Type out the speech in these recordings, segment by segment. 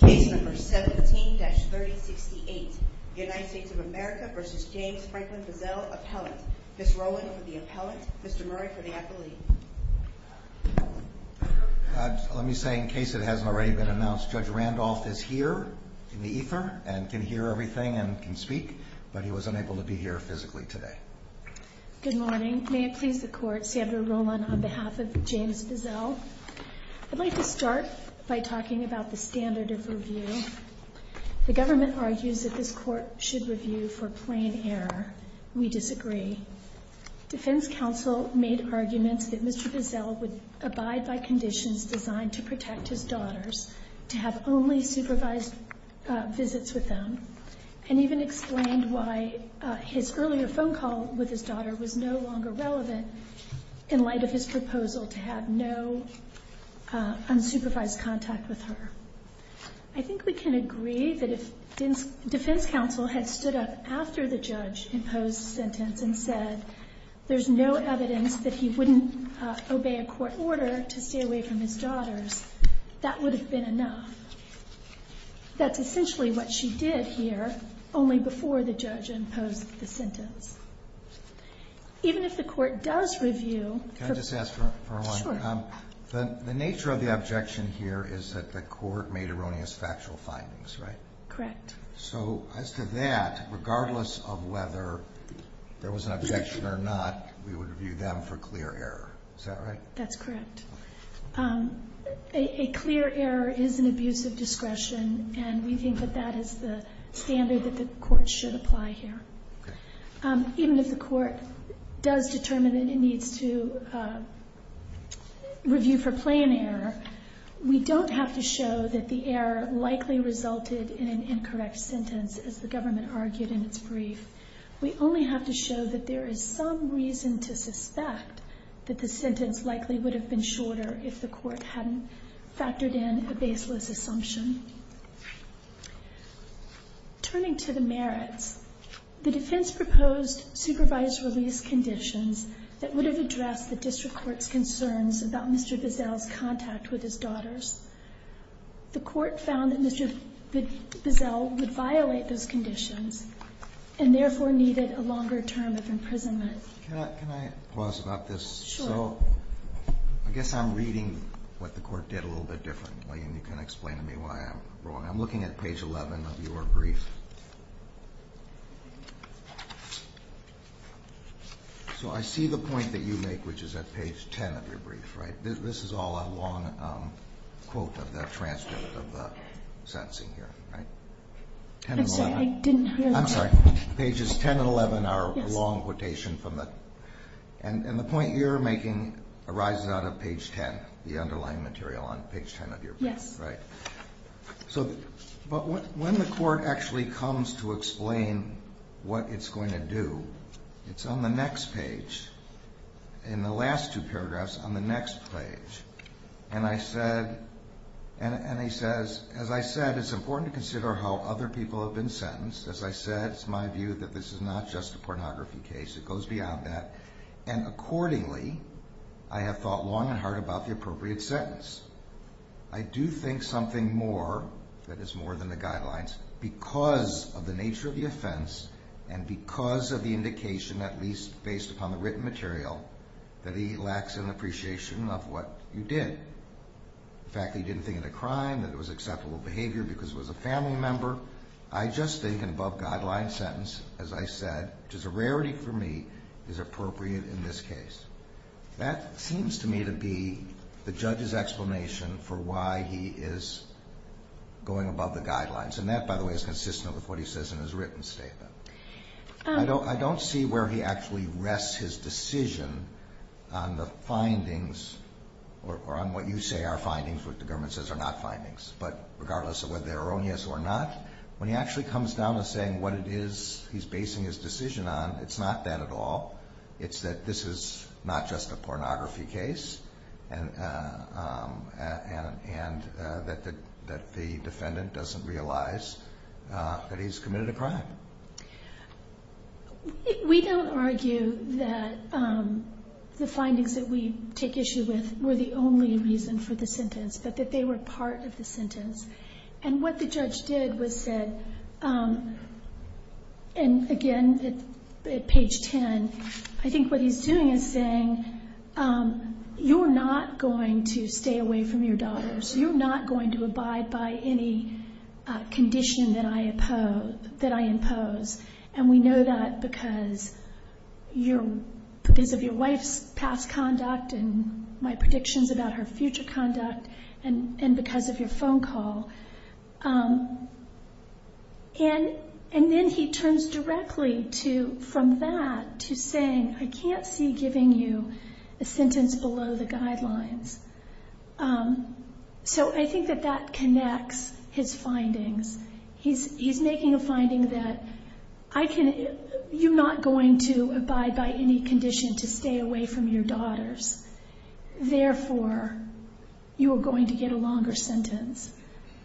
Case No. 17-3068 United States of America v. James Franklin Bizzell, Appellant. Ms. Rowland for the Appellant, Mr. Murray for the Appellate. Let me say in case it hasn't already been announced, Judge Randolph is here in the ether and can hear everything and can speak, but he was unable to be here physically today. Good morning. May it please the Court, Sandra Rowland on behalf of James Bizzell. I'd like to start by talking about the standard of review. The government argues that this Court should review for plain error. We disagree. Defense counsel made arguments that Mr. Bizzell would abide by conditions designed to protect his daughters, to have only supervised visits with them, and even explained why his earlier phone call with his daughter was no longer relevant in light of his proposal to have no unsupervised contact with her. I think we can agree that if defense counsel had stood up after the judge imposed the sentence and said there's no evidence that he wouldn't obey a court order to stay away from his daughters, that would have been enough. That's essentially what she did here, only before the judge imposed the sentence. Even if the Court does review... Can I just ask for a moment? Sure. The nature of the objection here is that the Court made erroneous factual findings, right? Correct. So as to that, regardless of whether there was an objection or not, we would review them for clear error. Is that right? That's correct. A clear error is an abuse of discretion, and we think that that is the standard that the Court should apply here. Even if the Court does determine that it needs to review for plain error, we don't have to show that the error likely resulted in an incorrect sentence, as the government argued in its brief. We only have to show that there is some reason to suspect that the sentence likely would have been shorter if the Court hadn't factored in a baseless assumption. Turning to the merits, the defense proposed supervised release conditions that would have addressed the district court's concerns about Mr. Bissell's contact with his daughters. The Court found that Mr. Bissell would violate those conditions and therefore needed a longer term of imprisonment. Can I pause about this? Sure. So I guess I'm reading what the Court did a little bit differently, and you can explain to me why I'm wrong. I'm looking at page 11 of your brief. So I see the point that you make, which is at page 10 of your brief, right? This is all a long quote of the transcript of the sentencing here, right? I'm sorry. I didn't hear that. I'm sorry. Pages 10 and 11 are a long quotation from the – And the point you're making arises out of page 10, the underlying material on page 10 of your brief. Yes. Right. But when the Court actually comes to explain what it's going to do, it's on the next page, in the last two paragraphs, on the next page. And I said – and he says, as I said, it's important to consider how other people have been sentenced. As I said, it's my view that this is not just a pornography case. It goes beyond that. And accordingly, I have thought long and hard about the appropriate sentence. I do think something more, that is more than the guidelines, because of the nature of the offense and because of the indication, at least based upon the written material, that he lacks an appreciation of what you did. In fact, he didn't think it a crime, that it was acceptable behavior because it was a family member. I just think an above-guidelines sentence, as I said, which is a rarity for me, is appropriate in this case. That seems to me to be the judge's explanation for why he is going above the guidelines. And that, by the way, is consistent with what he says in his written statement. I don't see where he actually rests his decision on the findings or on what you say are findings, which the government says are not findings. But regardless of whether they're erroneous or not, when he actually comes down to saying what it is he's basing his decision on, it's not that at all. It's that this is not just a pornography case and that the defendant doesn't realize that he's committed a crime. We don't argue that the findings that we take issue with were the only reason for the sentence, but that they were part of the sentence. And what the judge did was said, and again at page 10, I think what he's doing is saying, you're not going to stay away from your daughters. You're not going to abide by any condition that I impose. And we know that because of your wife's past conduct and my predictions about her future conduct and because of your phone call. And then he turns directly from that to saying, I can't see giving you a sentence below the guidelines. So I think that that connects his findings. He's making a finding that you're not going to abide by any condition to stay away from your daughters. Therefore, you are going to get a longer sentence.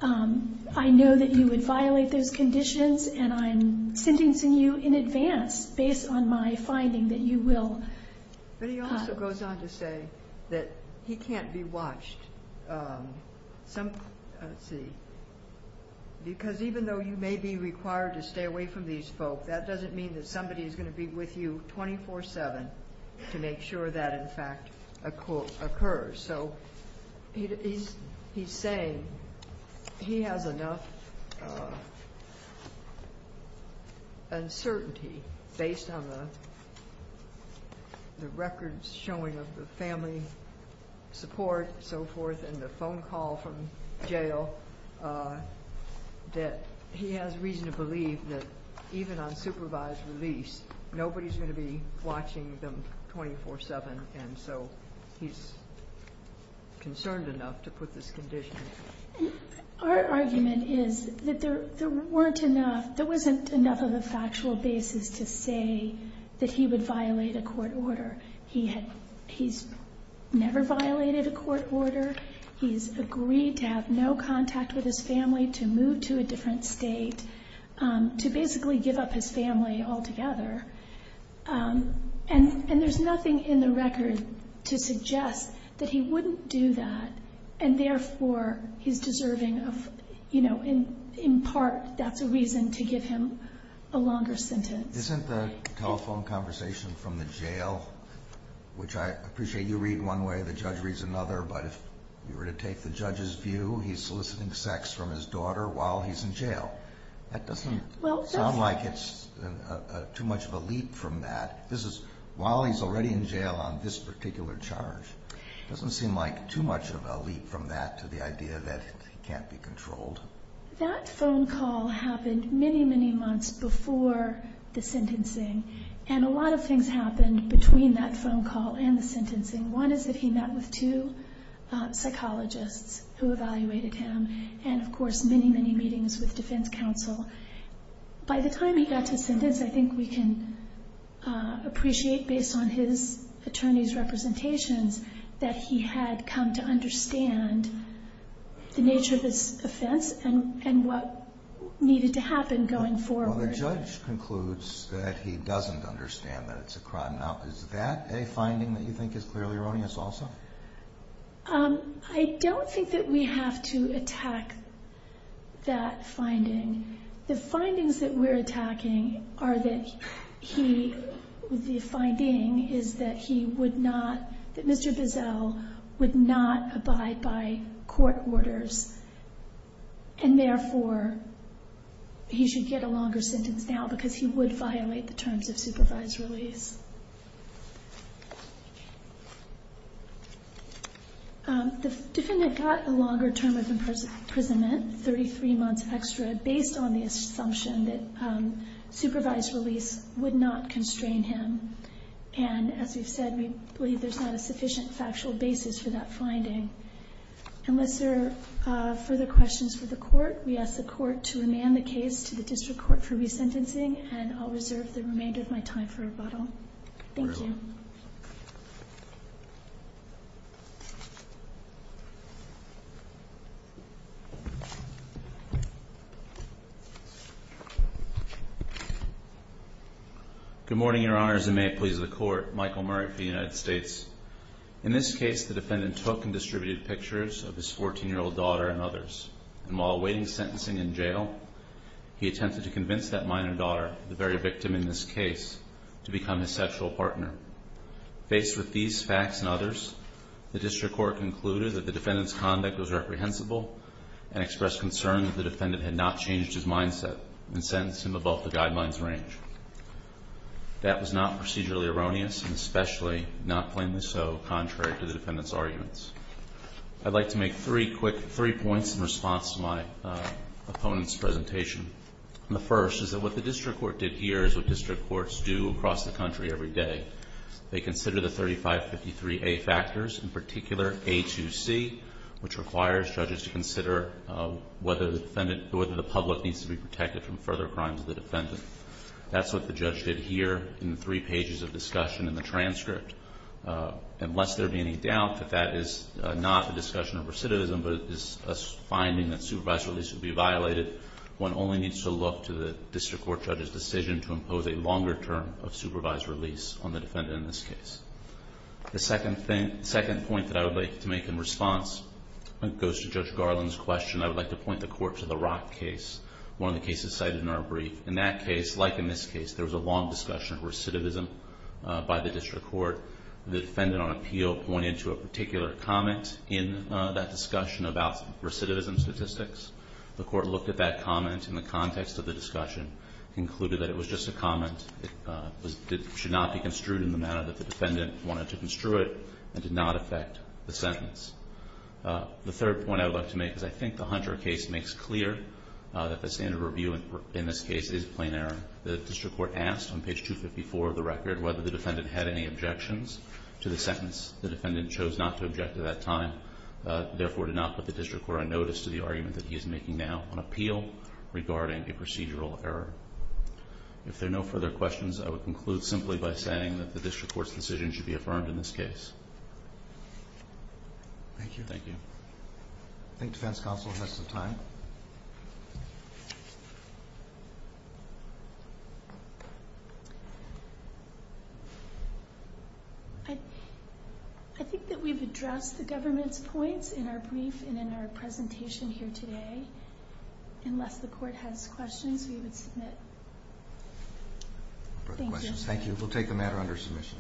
I know that you would violate those conditions, and I'm sentencing you in advance based on my finding that you will. But he also goes on to say that he can't be watched. Let's see. Because even though you may be required to stay away from these folk, that doesn't mean that somebody is going to be with you 24-7 to make sure that, in fact, occurs. So he's saying he has enough uncertainty based on the records showing of the family support and so forth and the phone call from jail that he has reason to believe that even on supervised release, nobody is going to be watching them 24-7. And so he's concerned enough to put this condition. Our argument is that there wasn't enough of a factual basis to say that he would violate a court order. He's never violated a court order. He's agreed to have no contact with his family, to move to a different state, to basically give up his family altogether. And there's nothing in the record to suggest that he wouldn't do that, and therefore he's deserving of, in part, that's a reason to give him a longer sentence. Isn't the telephone conversation from the jail, which I appreciate you read one way, the judge reads another, but if you were to take the judge's view, he's soliciting sex from his daughter while he's in jail. That doesn't sound like it's too much of a leap from that. This is while he's already in jail on this particular charge. It doesn't seem like too much of a leap from that to the idea that he can't be controlled. That phone call happened many, many months before the sentencing, and a lot of things happened between that phone call and the sentencing. One is that he met with two psychologists who evaluated him, and, of course, many, many meetings with defense counsel. By the time he got to sentence, I think we can appreciate, based on his attorney's representations, that he had come to understand the nature of his offense and what needed to happen going forward. Well, the judge concludes that he doesn't understand that it's a crime. Now, is that a finding that you think is clearly erroneous also? I don't think that we have to attack that finding. The findings that we're attacking are that the finding is that he would not, that Mr. Bissell would not abide by court orders, and therefore he should get a longer sentence now because he would violate the terms of supervised release. The defendant got a longer term of imprisonment, 33 months extra, based on the assumption that supervised release would not constrain him. And as we've said, we believe there's not a sufficient factual basis for that finding. Unless there are further questions for the court, we ask the court to remand the case to the district court for resentencing, and I'll reserve the remainder of my time for rebuttal. Thank you. Good morning. Good morning, Your Honors, and may it please the Court. Michael Murray for the United States. In this case, the defendant took and distributed pictures of his 14-year-old daughter and others, and while awaiting sentencing in jail, he attempted to convince that minor daughter, the very victim in this case, to become his sexual partner. Faced with these facts and others, the district court concluded that the defendant's conduct was reprehensible and expressed concern that the defendant had not changed his mindset and sentenced him above the guidelines range. That was not procedurally erroneous, and especially not plainly so contrary to the defendant's arguments. I'd like to make three quick points in response to my opponent's presentation. The first is that what the district court did here is what district courts do across the country every day. They consider the 3553A factors, in particular, A2C, which requires judges to consider whether the public needs to be protected from further crimes of the defendant. That's what the judge did here in the three pages of discussion in the transcript. Unless there be any doubt that that is not a discussion of recidivism, but is a finding that supervised release would be violated, one only needs to look to the district court judge's decision to impose a longer term of supervised release on the defendant in this case. The second point that I would like to make in response goes to Judge Garland's question. I would like to point the court to the Rock case, one of the cases cited in our brief. In that case, like in this case, there was a long discussion of recidivism by the district court. The defendant on appeal pointed to a particular comment in that discussion about recidivism statistics. The court looked at that comment in the context of the discussion, concluded that it was just a comment. It should not be construed in the manner that the defendant wanted to construe it, and did not affect the sentence. The third point I would like to make is I think the Hunter case makes clear that the standard review in this case is plain error. The district court asked on page 254 of the record whether the defendant had any objections to the sentence. The defendant chose not to object at that time, therefore did not put the district court on notice to the argument that he is making now on appeal regarding a procedural error. If there are no further questions, I would conclude simply by saying that the district court's decision should be affirmed in this case. Thank you. Thank you. I think defense counsel has some time. I think that we've addressed the government's points in our brief and in our presentation here today. Unless the court has questions, we would submit. Thank you. Thank you. We'll take the matter under submission.